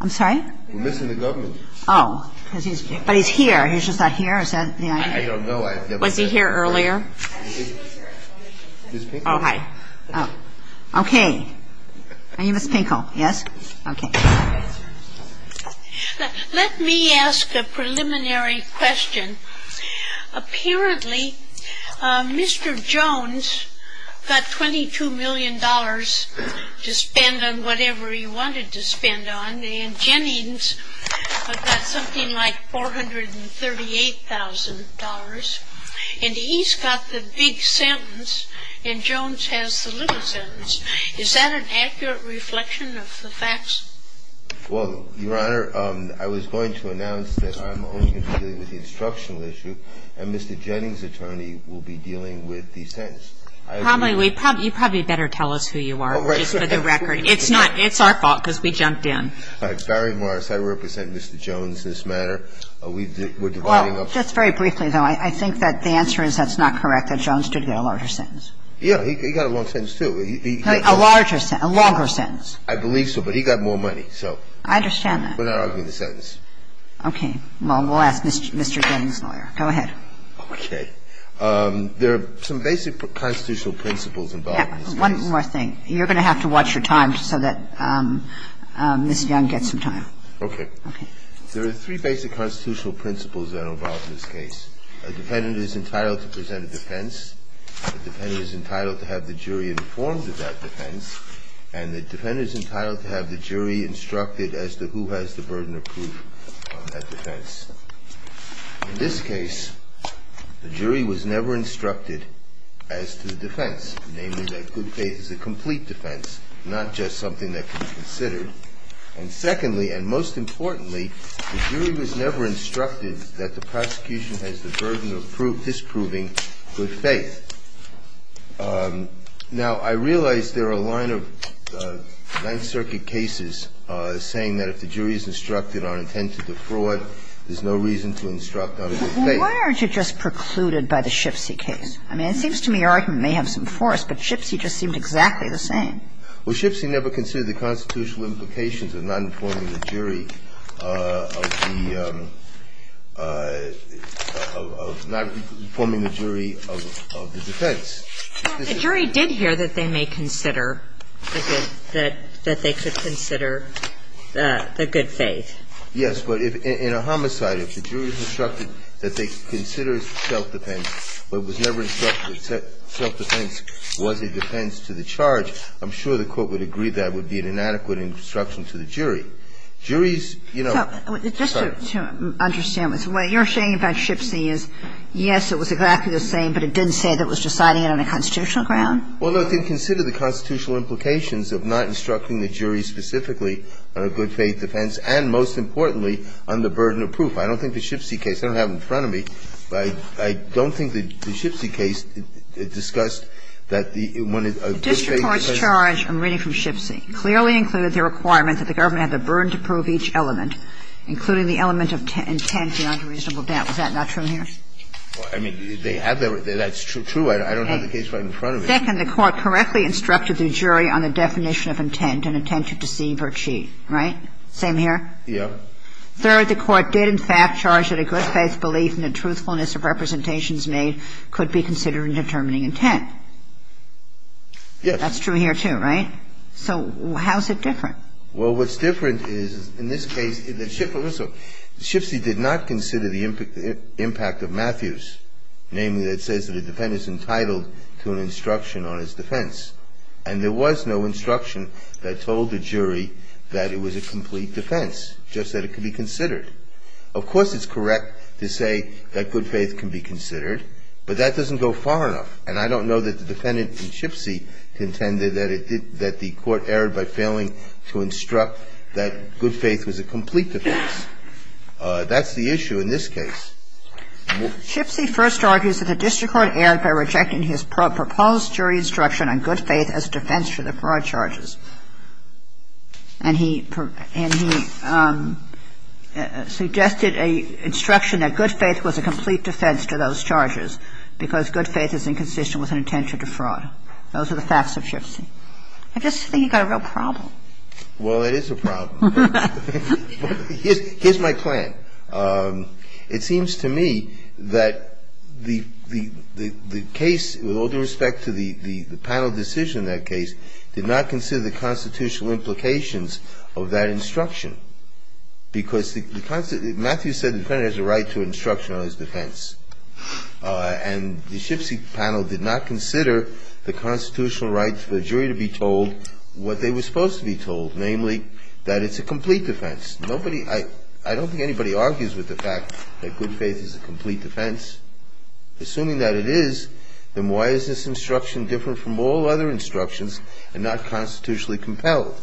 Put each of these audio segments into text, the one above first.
Let me ask a preliminary question. Apparently, Mr. Jones got $22 million to spend on whatever he wanted to spend on, and Jennings got something like $438,000, and he's got the big sentence and Jones has the little sentence. Is that an accurate reflection of the facts? Justice Breyer Well, Your Honor, I was going to announce that I'm only going to deal with the instructional issue, and Mr. Jennings' attorney will be dealing with the sentence. I agree with that. Justice Kagan You probably better tell us who you are, just for the record. It's not – it's our fault, because we jumped in. Justice Breyer It's Barry Morris. I represent Mr. Jones in this matter. We're dividing up the – Justice Kagan Well, just very briefly, though, I think that the answer is that's not correct, that Jones did get a larger sentence. Justice Breyer Yeah, he got a long sentence, too. He – Justice Kagan A larger – a longer sentence. Justice Breyer I believe so, but he got more money, so – Justice Kagan I understand that. Justice Breyer We're not arguing the sentence. Justice Kagan Okay. Well, we'll ask Mr. Jennings' lawyer. Go ahead. Justice Breyer Okay. There are some basic constitutional principles involved in this case. Justice Kagan You're going to have to watch your time so that Ms. Young gets some time. Justice Breyer Okay. Justice Kagan Okay. Justice Breyer There are three basic constitutional principles that are involved in this case. A defendant is entitled to present a defense. A defendant is entitled to have the jury informed of that defense. And the defendant is entitled to have the jury instructed as to who has the burden of proof on that defense. In this case, the jury was never instructed as to the defense, namely that good faith is a complete defense, not just something that could be considered. And secondly, and most importantly, the jury was never instructed that the prosecution has the burden of disproving good faith. Now, I realize there are a line of Ninth Circuit cases saying that if the jury is instructed on intent to defraud, there's no reason to instruct on good faith. Justice Kagan Well, why aren't you just precluded by the Shipsy case? I mean, it seems to me your argument may have some force, but Shipsy just seemed exactly the same. Justice Breyer Well, Shipsy never considered the constitutional implications of not informing the jury of the defense. Justice Kagan Well, the jury did hear that they may consider that they could consider the good faith. Justice Breyer Yes, but in a homicide, if the jury is instructed that they consider self-defense, but was never instructed that self-defense was a defense to the charge, I'm sure the Court would agree that would be an inadequate instruction to the jury. Juries, you know – Justice Kagan So, just to understand this, what you're saying about Shipsy is, yes, it was exactly the same, but it didn't say that it was deciding it on a constitutional ground? Justice Breyer Well, no, it didn't consider the constitutional implications of not instructing the jury specifically on a good faith defense, and most importantly, on the burden of proof. I don't think the Shipsy case – I don't think the Shipsy case was a good faith defense. Justice Kagan The district court's charge, I'm reading from Shipsy, clearly included the requirement that the government have the burden to prove each element, including the element of intent beyond a reasonable doubt. Was that not true here? Justice Breyer I mean, they have – that's true. I don't have the case right in front of me. Justice Kagan Second, the court correctly instructed the jury on the definition of intent, an intent to deceive or cheat, right? Same here? Justice Breyer Yeah. Justice Kagan Third, the court did, in fact, charge that a good faith belief in the truthfulness of representations made could be considered in determining intent. Justice Breyer Yes. Justice Kagan That's true here, too, right? So how's it different? Justice Breyer Well, what's different is, in this case, the Shipsy – Shipsy did not consider the impact of Matthews, namely that it says that a defendant's entitled to an instruction on his defense. And there was no instruction that told the jury that it was a complete defense, just that it could be considered. Of course, it's correct to say that good faith can be considered, but that doesn't go far enough. And I don't know that the defendant in Shipsy contended that it did – that the court erred by failing to instruct that good faith was a complete defense. That's the issue in this case. Justice Kagan Shipsy first argues that the district court erred by rejecting his proposed jury instruction on good faith as defense for the fraud charges. And he – and he suggested a instruction that good faith was a complete defense to those charges because good faith is inconsistent with an intention to fraud. Those are the facts of Shipsy. I just think you've got a real problem. Justice Breyer Well, it is a problem. Justice Kagan Ha, ha, ha. Justice Breyer Here's – here's my plan. It seems to me that the – the – the case, with all due respect to the – the panel decision in that case, did not consider the constitutional implications of that instruction because the – the – Matthews said the defendant has a right to an instruction on his defense. And the Shipsy panel did not consider the constitutional rights for a jury to be told what they were supposed to be told, namely, that it's a complete defense. Nobody – I – I don't think anybody argues with the fact that good faith is a complete defense. Assuming that it is, then why is this instruction different from all other instructions and not constitutionally compelled?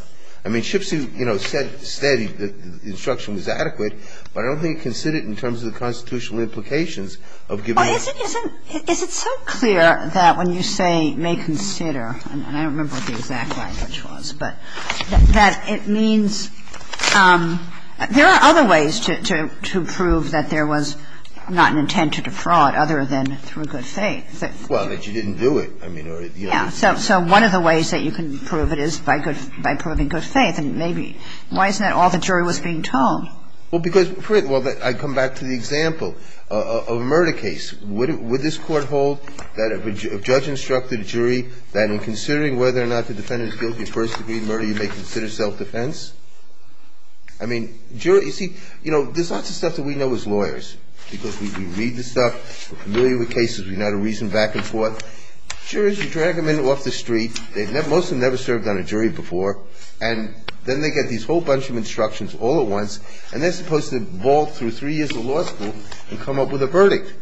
I mean, Shipsy, you know, said that the instruction was adequate, but I don't think it considered it in terms of the constitutional implications of giving – Kagan Is it – is it – is it so clear that when you say may consider, and I don't remember what the exact language was, but that it means – there are other ways to – to – to prove that there was not an intent to defraud other than through good faith. Justice Breyer Well, that you didn't do it, I mean, or – Kagan Yeah. So – so one of the ways that you can prove it is by good – by proving good faith, and maybe – why isn't that all the jury was being told? Justice Breyer Well, because – well, I come back to the example of a murder case. Would – would this Court hold that if a judge instructed a jury that in considering whether or not the defendant is guilty of first-degree murder, you may consider self-defense? I mean, jury – you see, you know, there's lots of stuff that we know as lawyers, because we read the stuff, we're familiar with cases, we know how to reason back and forth. Juries, you drag them in off the jury before, and then they get these whole bunch of instructions all at once, and they're supposed to vault through three years of law school and come up with a verdict.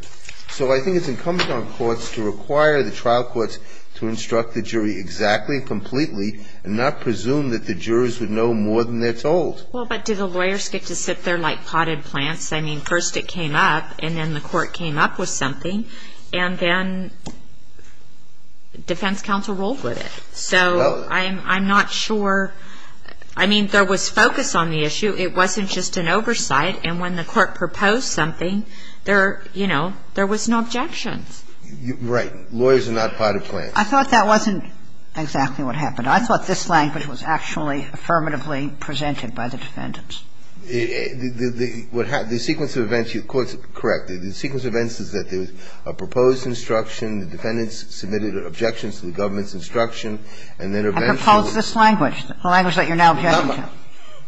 So I think it's incumbent on courts to require the trial courts to instruct the jury exactly and completely, and not presume that the jurors would know more than they're told. Kagan Well, but do the lawyers get to sit there like potted plants? I mean, first it came up, and then the court came up with something, and then defense counsel rolled with it. So I'm – I'm not sure – I mean, there was focus on the issue. It wasn't just an oversight. And when the court proposed something, there – you know, there was no objections. Kennedy Right. Lawyers are not potted plants. Ginsburg I thought that wasn't exactly what happened. I thought this language was actually affirmatively presented by the defendants. Kennedy The – what happened – the sequence of events you – the court's correct. The sequence of events is that there was a proposed instruction, the government's instruction, and then eventually – Ginsburg I proposed this language, the language that you're now objecting to.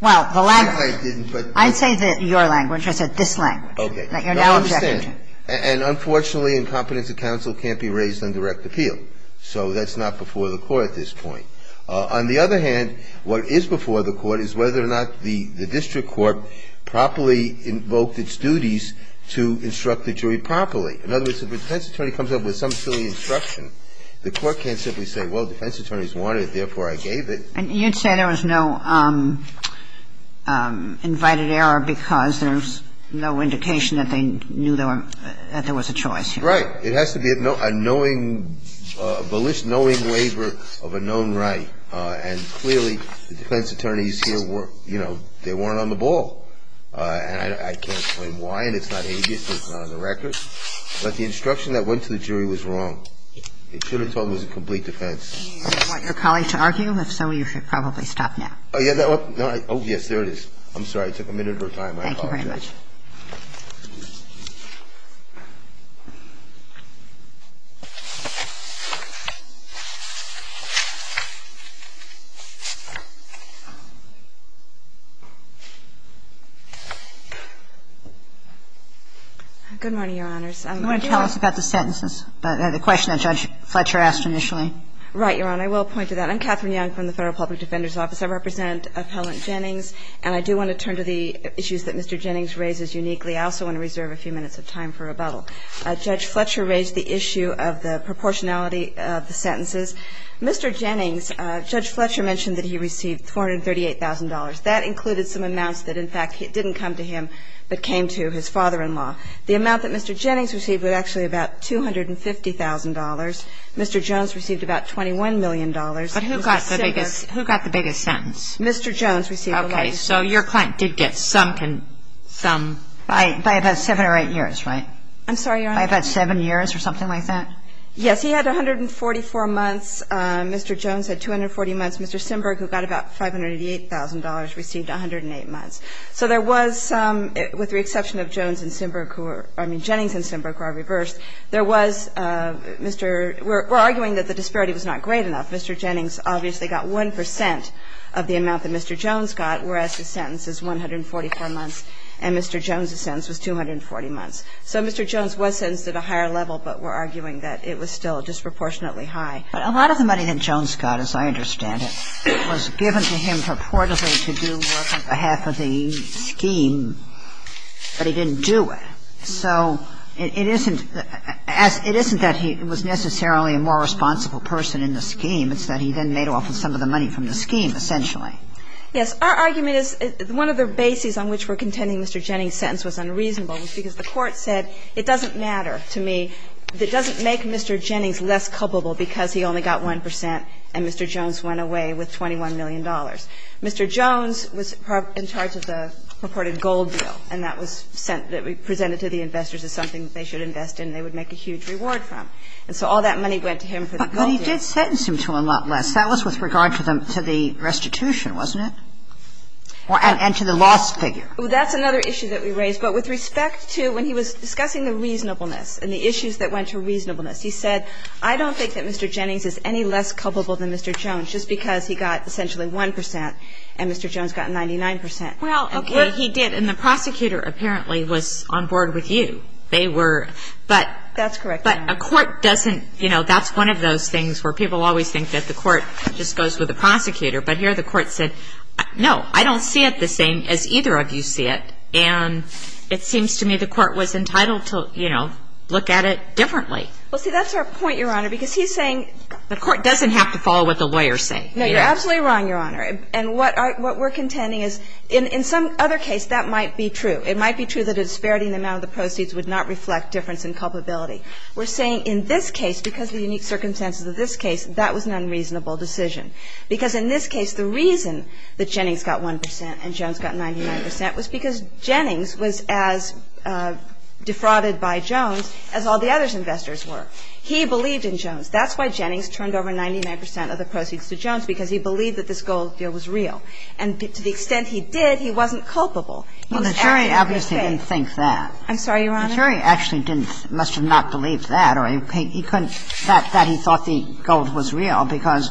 Well, the language – Kennedy I didn't, but – Ginsburg I said your language. I said this language that you're now objecting to. Kennedy Okay. Now, I understand. And unfortunately, incompetence of counsel can't be raised on direct appeal. So that's not before the court at this point. On the other hand, what is before the court is whether or not the – the district court properly invoked its duties to instruct the jury properly. In other words, if a defense attorney comes up with some silly instruction, the court can't simply say, well, defense attorneys wanted it, therefore I gave it. Ginsburg And you'd say there was no invited error because there's no indication that they knew there were – that there was a choice. Kennedy Right. It has to be a knowing – a knowing – a knowing waiver of a known right. And clearly, the defense attorneys here were – you know, they weren't on the ball. And I can't explain why, and it's not habeas, and it's not on the record. But the instruction that went to the jury was wrong. It should have told them that it was a complete defense. Kagan I don't want your colleague to argue. If so, you should probably stop now. Kennedy Oh, yeah. Oh, yes, there it is. I'm sorry. It took a minute of her time. I apologize. Kagan Thank you very much. I do want to turn to the issues that Mr. Jennings raises uniquely. I also want to reserve a few minutes of time for rebuttal. Judge Fletcher raised the issue of the proportionality of the sentences. Mr. Jennings, Judge Fletcher mentioned that he received $438,000. That included some amounts that, in fact, didn't come to him but came to his father-in-law. The amount that Mr. Jennings received was actually about $250,000. Mr. Jones received about $21 million. Ginsburg But who got the biggest – who got the biggest sentence? Kagan Mr. Jones received the largest. Ginsburg Okay. So your client did get some – some – by about 7 or 8 years, right? Kagan I'm sorry, Your Honor. Ginsburg By about 7 years or something like that? Kagan Yes. He had 144 months. Mr. Jones had 240 months. Mr. Sinberg, who got about $588,000, received 108 months. So there was some, with the exception of Jones and Sinberg who were – I mean Jennings and Sinberg who are reversed, there was Mr. – we're arguing that the disparity was not great enough. Mr. Jennings obviously got 1 percent of the amount that Mr. Jones got, whereas his sentence is 144 months and Mr. Jones was 240 months. So Mr. Jones was sentenced at a higher level, but we're arguing that it was still disproportionately high. Kagan But a lot of the money that Jones got, as I understand it, was given to him purportedly to do work on behalf of the scheme, but he didn't do it. So it isn't – it isn't that he was necessarily a more responsible person in the scheme. It's that he then made off with some of the money from the scheme, essentially. Ginsburg Yes. Our argument is – one of the bases on which we're contending Mr. Jennings' sentence was unreasonable was because the Court said, it doesn't matter to me – it doesn't make Mr. Jennings less culpable because he only got 1 percent and Mr. Jones went away with $21 million. Mr. Jones was in charge of the purported gold deal, and that was sent – that was presented to the investors as something that they should invest in and they would make a huge reward from. And so all that money went to him for the gold deal. Kagan But he did sentence him to a lot less. That was with regard to the restitution, wasn't it? And to the loss figure. That's another issue that we raised. But with respect to – when he was discussing the reasonableness and the issues that went to reasonableness, he said, I don't think that Mr. Jennings is any less culpable than Mr. Jones just because he got essentially 1 percent and Mr. Jones got 99 percent. Well, okay. He did. And the prosecutor apparently was on board with you. They were – but – That's correct. But a court doesn't – you know, that's one of those things where people always think that the court just goes with the prosecutor. But here the court said, no, I don't see it the same as either of you see it. And it seems to me the court was entitled to, you know, look at it differently. Well, see, that's our point, Your Honor, because he's saying – The court doesn't have to follow what the lawyers say. No, you're absolutely wrong, Your Honor. And what we're contending is in some other case that might be true. It might be true that a disparity in the amount of the proceeds would not reflect difference in culpability. We're saying in this case, because of the unique circumstances of this case, that was an unreasonable decision. Because in this case, the reason that Jennings got 1 percent and Jones got 99 percent was because Jennings was as defrauded by Jones as all the other investors were. He believed in Jones. That's why Jennings turned over 99 percent of the proceeds to Jones, because he believed that this gold deal was real. And to the extent he did, he wasn't culpable. Well, the jury obviously didn't think that. I'm sorry, Your Honor. The jury actually didn't – must have not believed that, or he couldn't – The fact that he thought the gold was real because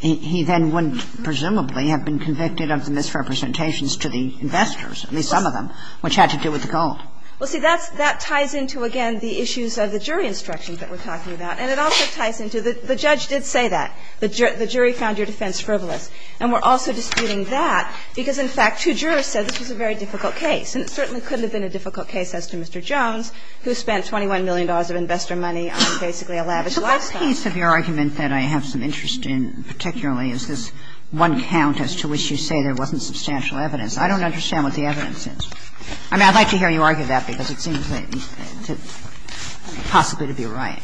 he then wouldn't, presumably, have been convicted of the misrepresentations to the investors, at least some of them, which had to do with the gold. Well, see, that ties into, again, the issues of the jury instructions that we're talking about. And it also ties into – the judge did say that. The jury found your defense frivolous. And we're also disputing that because, in fact, two jurors said this was a very difficult case. And it certainly couldn't have been a difficult case as to Mr. Jones, who spent $21 million of investor money on basically a lavish lifestyle. The last piece of your argument that I have some interest in, particularly, is this one count as to which you say there wasn't substantial evidence. I don't understand what the evidence is. I mean, I'd like to hear you argue that, because it seems possibly to be right.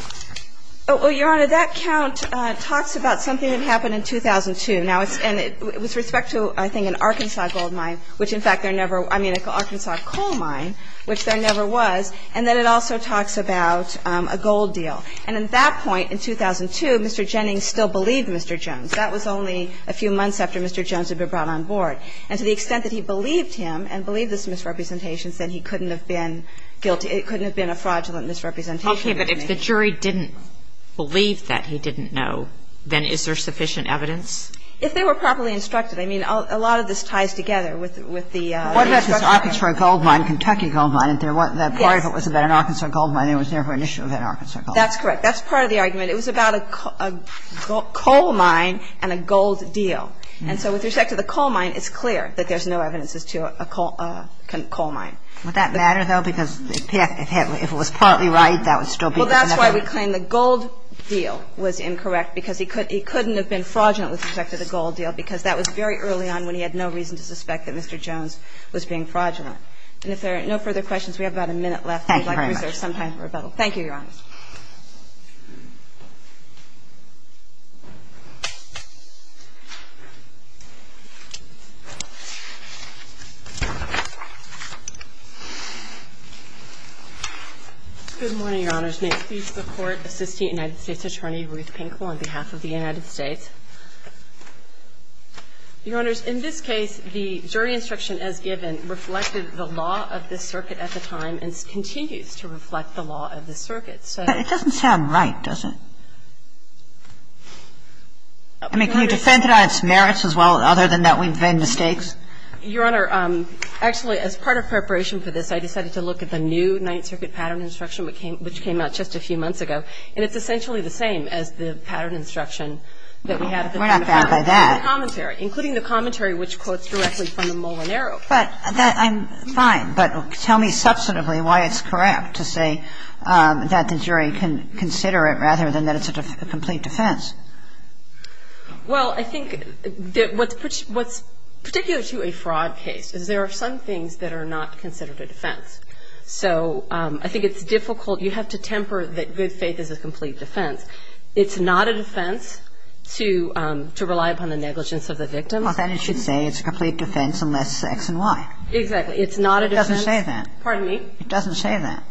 Well, Your Honor, that count talks about something that happened in 2002. Now, it's – and with respect to, I think, an Arkansas gold mine, which, in fact, there never – I mean, an Arkansas coal mine, which there never was, and then it also talks about a gold deal. And at that point in 2002, Mr. Jennings still believed Mr. Jones. That was only a few months after Mr. Jones had been brought on board. And to the extent that he believed him and believed this misrepresentation, then he couldn't have been guilty – it couldn't have been a fraudulent misrepresentation. Okay. But if the jury didn't believe that he didn't know, then is there sufficient evidence? If they were properly instructed. I mean, a lot of this ties together with the instructions. What about this Arkansas gold mine, Kentucky gold mine? Yes. If it was about an Arkansas gold mine, there was never an issue with an Arkansas gold mine. That's correct. That's part of the argument. It was about a coal mine and a gold deal. And so with respect to the coal mine, it's clear that there's no evidence as to a coal mine. Would that matter, though? Because if it was partly right, that would still be the connection. Well, that's why we claim the gold deal was incorrect, because he couldn't have been fraudulent with respect to the gold deal, because that was very early on when he had no reason to suspect that Mr. Jones was being fraudulent. And if there are no further questions, we have about a minute left. Thank you very much. We'd like to reserve some time for rebuttal. Thank you, Your Honors. Good morning, Your Honors. May it please the Court, Assistant United States Attorney Ruth Pinkle on behalf of the United States. Your Honors, in this case, the jury instruction as given reflected the law of this circuit at the time and continues to reflect the law of this circuit. But it doesn't sound right, does it? I mean, can you defend it on its merits as well, other than that we've made mistakes? Your Honor, actually, as part of preparation for this, I decided to look at the new Ninth Circuit pattern instruction, which came out just a few months ago. And it's We're not bad by that. Including the commentary, including the commentary which quotes directly from the Mullen arrow. But I'm fine. But tell me substantively why it's correct to say that the jury can consider it rather than that it's a complete defense. Well, I think what's particular to a fraud case is there are some things that are not considered a defense. So I think it's difficult. You have to temper that good It's not a defense to rely upon the negligence of the victim. Well, then it should say it's a complete defense unless X and Y. Exactly. It's not a defense. It doesn't say that. Pardon me? It doesn't say that.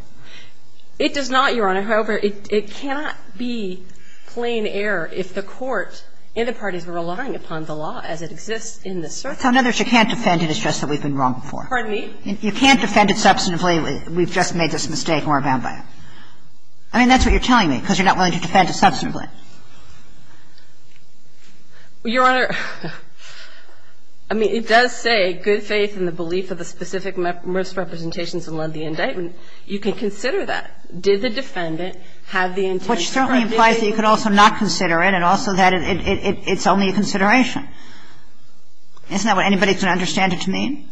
It does not, Your Honor. However, it cannot be plain error if the court and the parties were relying upon the law as it exists in this circuit. So in other words, you can't defend it, it's just that we've been wrong before. Pardon me? You can't defend it substantively, we've just made this mistake and we're bound by it. I mean, that's what you're telling me, because you're not willing to defend it substantively. Well, Your Honor, I mean, it does say good faith in the belief of the specific misrepresentations and led the indictment. You can consider that. Did the defendant have the intention? Which certainly implies that you could also not consider it and also that it's only a consideration. Isn't that what anybody can understand it to mean?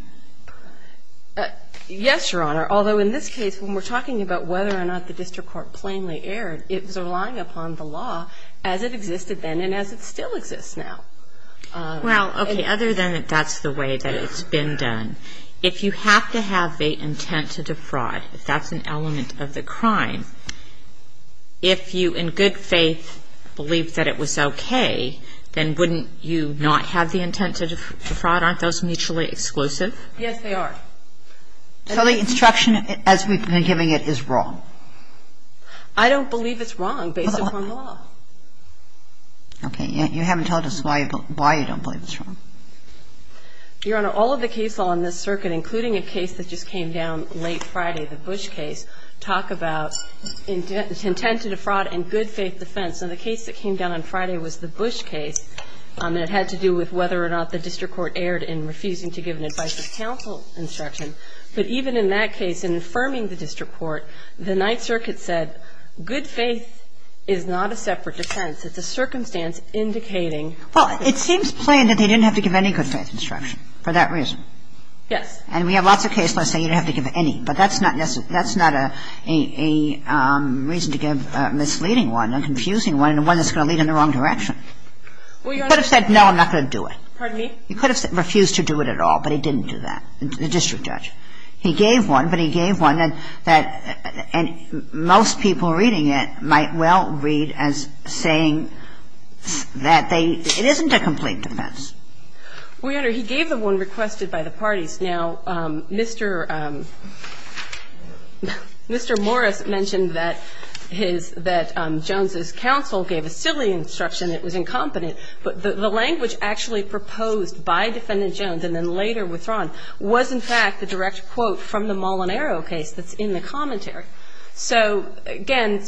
Yes, Your Honor. Although, in this case, when we're talking about whether or not the district court plainly erred, it was relying upon the law as it existed then and as it still exists now. Well, okay. Other than that that's the way that it's been done. If you have to have the intent to defraud, if that's an element of the crime, if you in good faith believed that it was okay, then wouldn't you not have the intent to defraud? Aren't those mutually exclusive? Yes, they are. So the instruction as we've been giving it is wrong? I don't believe it's wrong based upon law. Okay. You haven't told us why you don't believe it's wrong. Your Honor, all of the case law in this circuit, including a case that just came down late Friday, the Bush case, talk about intent to defraud and good faith defense. And the case that came down on Friday was the Bush case, and it had to do with whether or not the district court erred in refusing to give an advice of counsel instruction. But even in that case, in affirming the district court, the Ninth Circuit said good faith is not a separate defense. It's a circumstance indicating. Well, it seems plain that they didn't have to give any good faith instruction for that reason. Yes. And we have lots of cases that say you don't have to give any, but that's not a reason to give a misleading one, a confusing one, and one that's going to lead in the wrong direction. Well, Your Honor. You could have said, no, I'm not going to do it. Pardon me? You could have refused to do it at all, but he didn't do that, the district judge. He gave one, but he gave one that most people reading it might well read as saying that they – it isn't a complete defense. Well, Your Honor, he gave the one requested by the parties. Now, Mr. Morris mentioned that his – that Jones' counsel gave a silly instruction. It was incompetent. But the language actually proposed by Defendant Jones and then later withdrawn was, in fact, the direct quote from the Molinaro case that's in the commentary. So, again,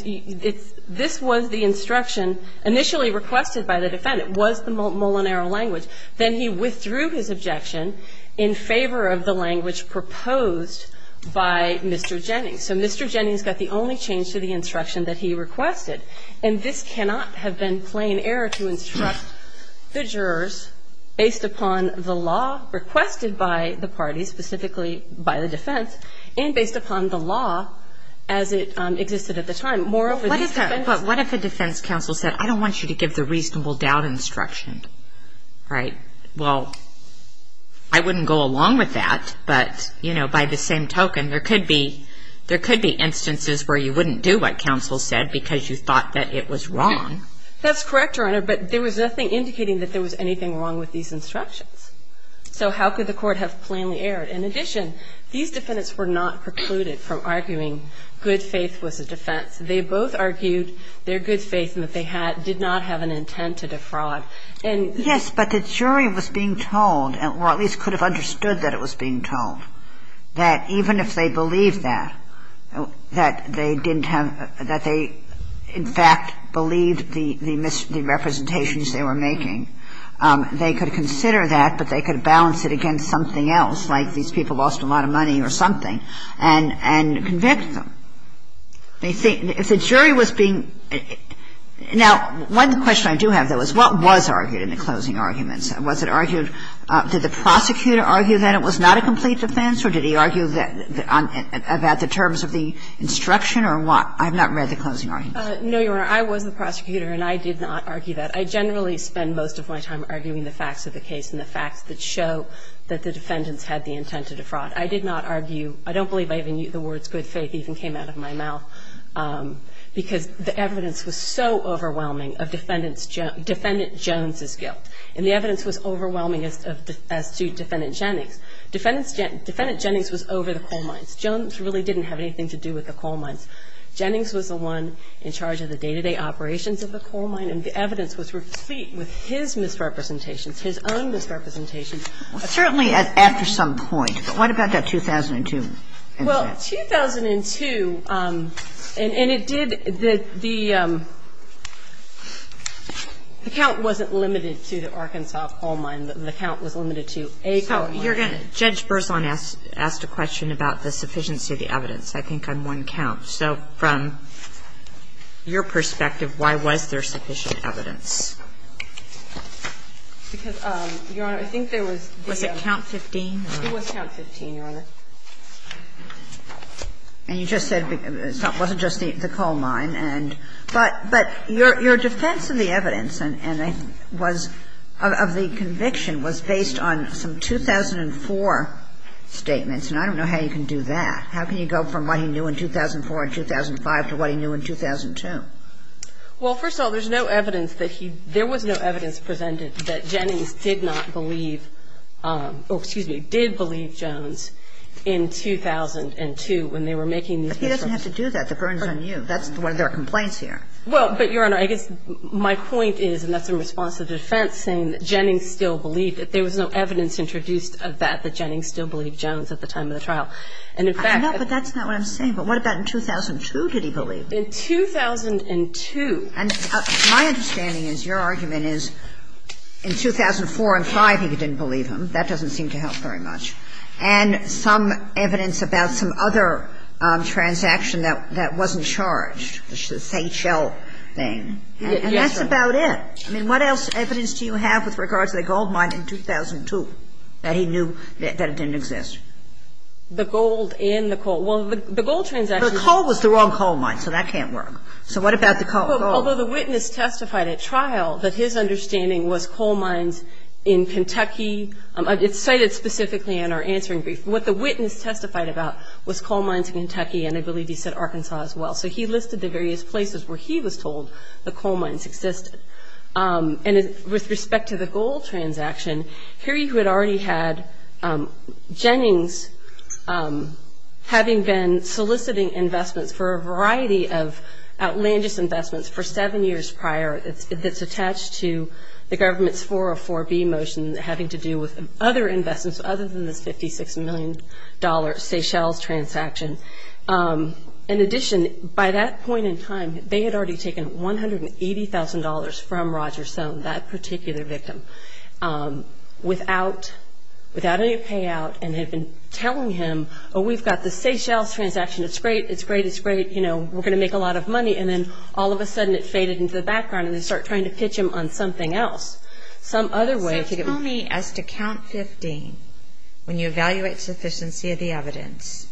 this was the instruction initially requested by the defendant, was the Molinaro language. Then he withdrew his objection in favor of the language proposed by Mr. Jennings. So Mr. Jennings got the only change to the instruction that he requested. And this cannot have been plain error to instruct the jurors based upon the law requested by the parties, specifically by the defense, and based upon the law as it existed at the time. Moreover, the defense – But what if a defense counsel said, I don't want you to give the reasonable doubt instruction, right? Well, I wouldn't go along with that, but, you know, by the same token, there could be instances where you wouldn't do what counsel said because you thought that it was wrong. That's correct, Your Honor, but there was nothing indicating that there was anything wrong with these instructions. So how could the court have plainly erred? In addition, these defendants were not precluded from arguing good faith was a defense. They both argued their good faith and that they did not have an intent to defraud. Yes, but the jury was being told, or at least could have understood that it was being told, that even if they believed that, that they didn't have – that they in fact believed the representations they were making, they could consider that, but they could balance it against something else, like these people lost a lot of money or something, and convict them. If the jury was being – now, one question I do have, though, is what was argued in the closing arguments? Was it argued – did the prosecutor argue that it was not a complete defense, or did he argue that – about the terms of the instruction or what? I have not read the closing arguments. No, Your Honor. I was the prosecutor, and I did not argue that. I generally spend most of my time arguing the facts of the case and the facts that show that the defendants had the intent to defraud. I did not argue – I don't believe the words good faith even came out of my mouth, because the evidence was so overwhelming of defendant's – defendant Jones's guilt, and the evidence was overwhelming as to defendant Jennings. Defendant Jennings was over the coal mines. Jones really didn't have anything to do with the coal mines. Jennings was the one in charge of the day-to-day operations of the coal mine, and the evidence was replete with his misrepresentations, his own misrepresentations. Certainly after some point, but what about that 2002 incident? Well, 2002 – and it did – the count wasn't limited to the Arkansas coal mine. The count was limited to a coal mine. So you're going to – Judge Berzon asked a question about the sufficiency of the evidence. I think I'm one count. So from your perspective, why was there sufficient evidence? Because, Your Honor, I think there was the – Was it count 15? It was count 15, Your Honor. And you just said it wasn't just the coal mine, and – but your defense of the evidence and was – of the conviction was based on some 2004 statements, and I don't know how you can do that. How can you go from what he knew in 2004 and 2005 to what he knew in 2002? Well, first of all, there's no evidence that he – there was no evidence presented that Jennings did not believe – or, excuse me, did believe Jones in 2002 when they were making these – But he doesn't have to do that. The burden's on you. That's why there are complaints here. Well, but, Your Honor, I guess my point is, and that's in response to the defense saying that Jennings still believed that there was no evidence introduced of that, that Jennings still believed Jones at the time of the trial. And in fact – I know, but that's not what I'm saying. But what about in 2002 did he believe? In 2002 – And my understanding is your argument is in 2004 and 2005 he didn't believe him. That doesn't seem to help very much. And some evidence about some other transaction that wasn't charged, this H.L. thing. And that's about it. I mean, what else evidence do you have with regards to the gold mine in 2002 that he knew that it didn't exist? The gold and the coal. Well, the gold transaction – But the coal was the wrong coal mine, so that can't work. So what about the coal? Although the witness testified at trial that his understanding was coal mines in Kentucky – it's cited specifically in our answering brief. What the witness testified about was coal mines in Kentucky and I believe he said Arkansas as well. So he listed the various places where he was told the coal mines existed. And with respect to the gold transaction, Harry who had already had Jennings having been soliciting investments for a variety of outlandish investments for seven years prior that's attached to the government's 404B motion having to do with other investments other than this $56 million Seychelles transaction. In addition, by that point in time, they had already taken $180,000 from Roger Soane, that particular victim, without any payout and had been telling him, oh, we've got the Seychelles transaction, it's great, it's great, it's great, you know, we're going to make a lot of money. And then all of a sudden it faded into the background and they start trying to pitch him on something else. So tell me, as to count 15, when you evaluate sufficiency of the evidence,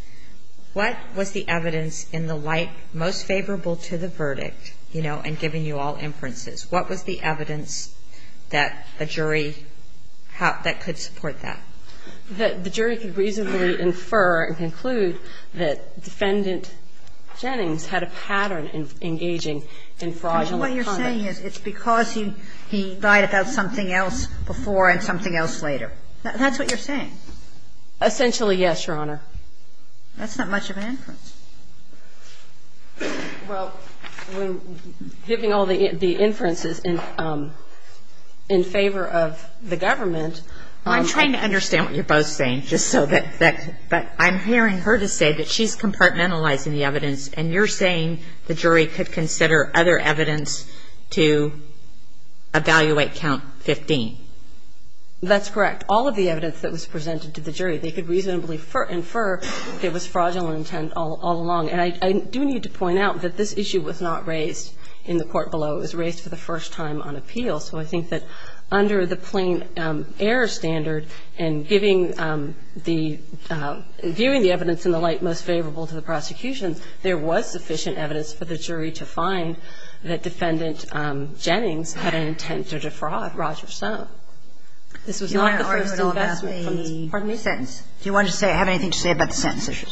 what was the evidence in the light most favorable to the verdict, you know, and giving you all inferences, what was the evidence that a jury could support that? The jury could reasonably infer and conclude that Defendant Jennings had a pattern engaging in fraudulent conduct. What you're saying is it's because he lied about something else before and something else later. That's what you're saying. Essentially, yes, Your Honor. That's not much of an inference. Well, giving all the inferences in favor of the government. I'm trying to understand what you're both saying, just so that I'm hearing her to say that she's compartmentalizing the evidence and you're saying the jury could consider other evidence to evaluate count 15. That's correct. All of the evidence that was presented to the jury, they could reasonably infer it was fraudulent intent all along. And I do need to point out that this issue was not raised in the court below. It was raised for the first time on appeal. So I think that under the plain error standard and giving the – viewing the evidence in the light most favorable to the prosecution, there was sufficient evidence for the jury to find that Defendant Jennings had an intent to defraud Roger Stone. This was not the first investment from the – Pardon me? Do you want to say – have anything to say about the sentence issue?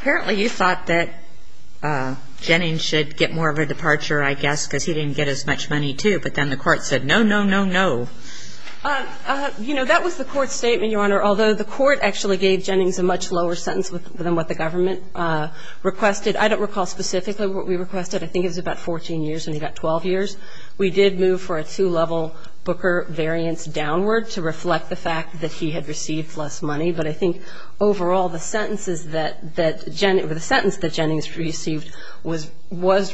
Apparently, you thought that Jennings should get more of a departure, I guess, because he didn't get as much money, too. But then the court said, no, no, no, no. You know, that was the court's statement, Your Honor, although the court actually gave Jennings a much lower sentence than what the government requested. I don't recall specifically what we requested. I think it was about 14 years and he got 12 years. We did move for a two-level Booker variance downward to reflect the fact that he had received less money. But I think overall, the sentences that – the sentence that Jennings received was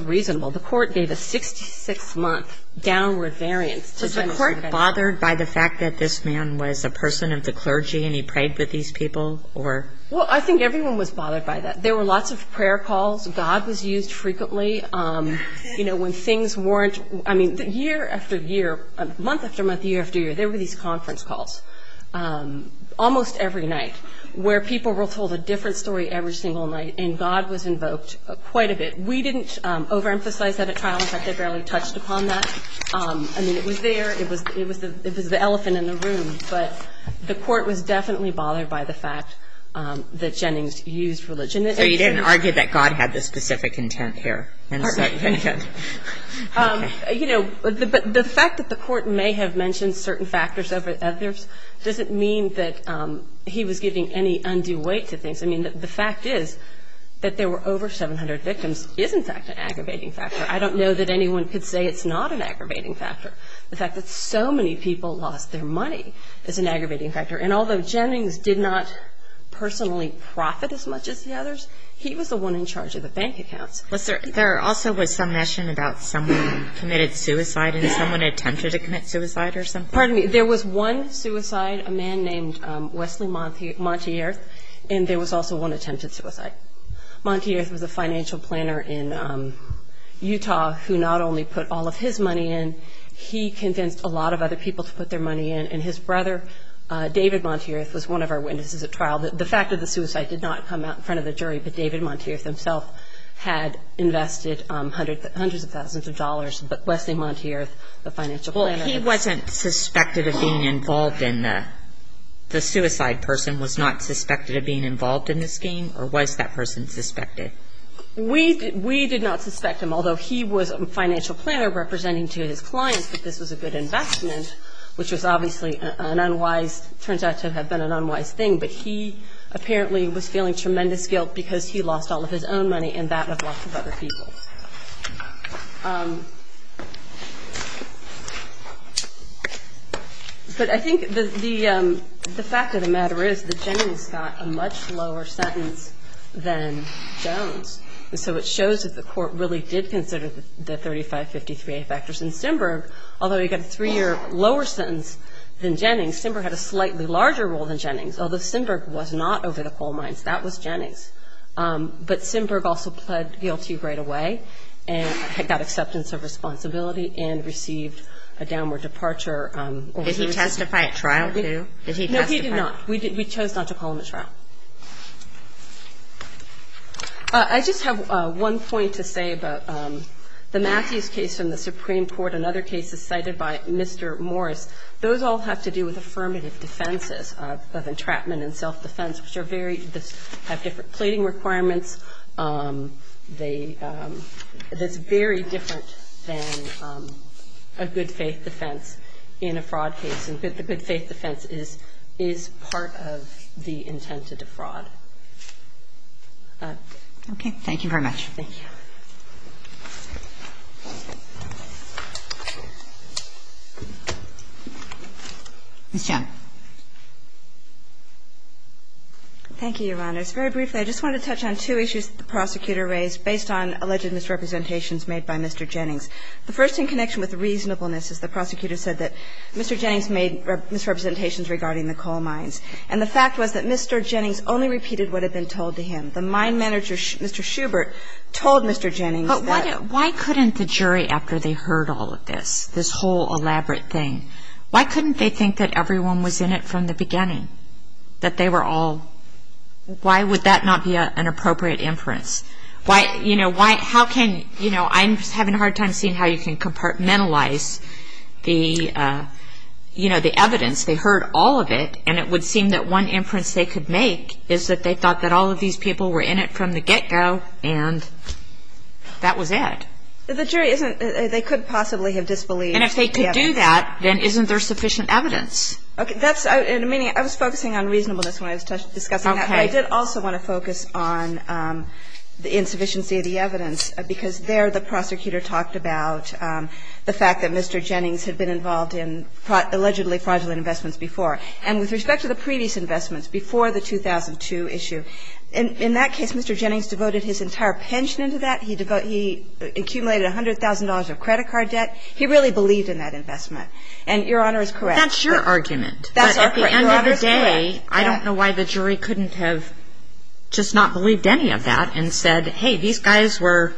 reasonable. The court gave a 66-month downward variance to Jennings. Was the court bothered by the fact that this man was a person of the clergy and he prayed with these people or – Well, I think everyone was bothered by that. There were lots of prayer calls. God was used frequently. You know, when things weren't – I mean, year after year, month after month, year after year, there were these conference calls almost every night where people were told a different story every single night and God was invoked quite a bit. We didn't overemphasize that at trial. In fact, I barely touched upon that. I mean, it was there. It was the elephant in the room. But the court was definitely bothered by the fact that Jennings used religion. So you didn't argue that God had this specific intent here? You know, but the fact that the court may have mentioned certain factors over others doesn't mean that he was giving any undue weight to things. I mean, the fact is that there were over 700 victims is, in fact, an aggravating factor. I don't know that anyone could say it's not an aggravating factor. The fact that so many people lost their money is an aggravating factor. And although Jennings did not personally profit as much as the others, he was the one in charge of the bank accounts. There also was some mention about someone who committed suicide and someone attempted to commit suicide or something? Pardon me. There was one suicide, a man named Wesley Montier, and there was also one attempted suicide. Montier was a financial planner in Utah who not only put all of his money in, he convinced a lot of other people to put their money in, and his brother, David Montier, was one of our witnesses at trial. The fact of the suicide did not come out in front of the jury, but David Montier himself had invested hundreds of thousands of dollars, but Wesley Montier, the financial planner. Well, he wasn't suspected of being involved in the suicide person, was not suspected of being involved in the scheme, or was that person suspected? We did not suspect him, although he was a financial planner representing to his clients that this was a good investment, which was obviously an unwise, turns out to have been an unwise thing, but he apparently was feeling tremendous guilt because he lost all of his own money and that of lots of other people. But I think the fact of the matter is that Jones got a much lower sentence than Jones, and so it shows that the court really did consider the 3553A factors, and Stenberg, although he got a three-year lower sentence than Jennings, Stenberg had a slightly larger role than Jennings, although Stenberg was not over the coal mines. That was Jennings. But Stenberg also pled guilty right away and got acceptance of responsibility and received a downward departure. Did he testify at trial too? No, he did not. We chose not to call him at trial. I just have one point to say about the Matthews case from the Supreme Court and other cases cited by Mr. Morris. Those all have to do with affirmative defenses of entrapment and self-defense, which are very, have different pleading requirements. It's very different than a good faith defense in a fraud case, and a good faith defense is part of the intent to defraud. Okay. Thank you very much. Thank you. Ms. Chen. Thank you, Your Honors. Very briefly, I just wanted to touch on two issues that the prosecutor raised based on alleged misrepresentations made by Mr. Jennings. The first in connection with reasonableness is the prosecutor said that Mr. Jennings made misrepresentations regarding the coal mines. And the fact was that Mr. Jennings only repeated what had been told to him. The mine manager, Mr. Schubert, told Mr. Jennings that But why couldn't the jury, after they heard all of this, this whole elaborate thing, why couldn't they think that everyone was in it from the beginning? That they were all, why would that not be an appropriate inference? Why, you know, how can, you know, I'm having a hard time seeing how you can compartmentalize the, you know, the evidence. They heard all of it, and it would seem that one inference they could make is that they thought that all of these people were in it from the get-go, and that was it. The jury isn't, they couldn't possibly have disbelieved the evidence. And if they could do that, then isn't there sufficient evidence? Okay, that's, I was focusing on reasonableness when I was discussing that. Okay. I did also want to focus on the insufficiency of the evidence, because there the prosecutor talked about the fact that Mr. Jennings had been involved in allegedly fraudulent investments before. And with respect to the previous investments, before the 2002 issue, in that case, Mr. Jennings devoted his entire pension into that. He accumulated $100,000 of credit card debt. He really believed in that investment. That's your argument. That's our argument. At the end of the day, I don't know why the jury couldn't have just not believed any of that and said, hey, these guys were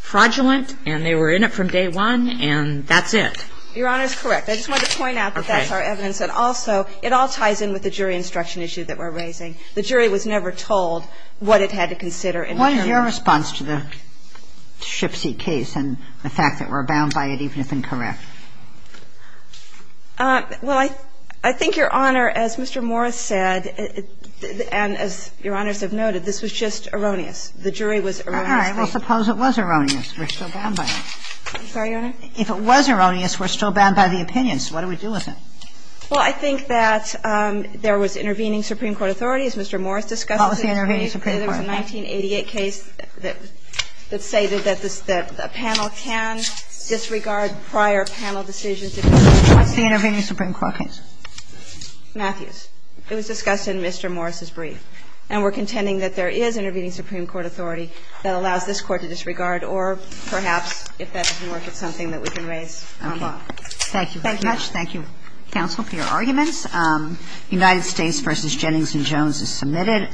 fraudulent, and they were in it from day one, and that's it. Your Honor is correct. I just wanted to point out that that's our evidence. And also, it all ties in with the jury instruction issue that we're raising. The jury was never told what it had to consider in return. What is your response to the Shipsea case and the fact that we're bound by it, even if incorrect? Well, I think, Your Honor, as Mr. Morris said, and as Your Honors have noted, this was just erroneous. The jury was erroneous. All right. Well, suppose it was erroneous. We're still bound by it. I'm sorry, Your Honor? If it was erroneous, we're still bound by the opinions. What do we do with it? Well, I think that there was intervening Supreme Court authorities. Mr. Morris discussed it. What was the intervening Supreme Court authorities? There was a 1988 case that stated that a panel can disregard prior panel members in order to handle decisions. What's the intervening Supreme Court case? Matthews. It was discussed in Mr. Morris' brief. And we're contending that there is intervening Supreme Court authority that allows this Court to disregard or, perhaps, if that doesn't work, it's something that we can raise on law. Thank you very much. Thank you, counsel, for your arguments. United States v. Jennings & Jones is submitted.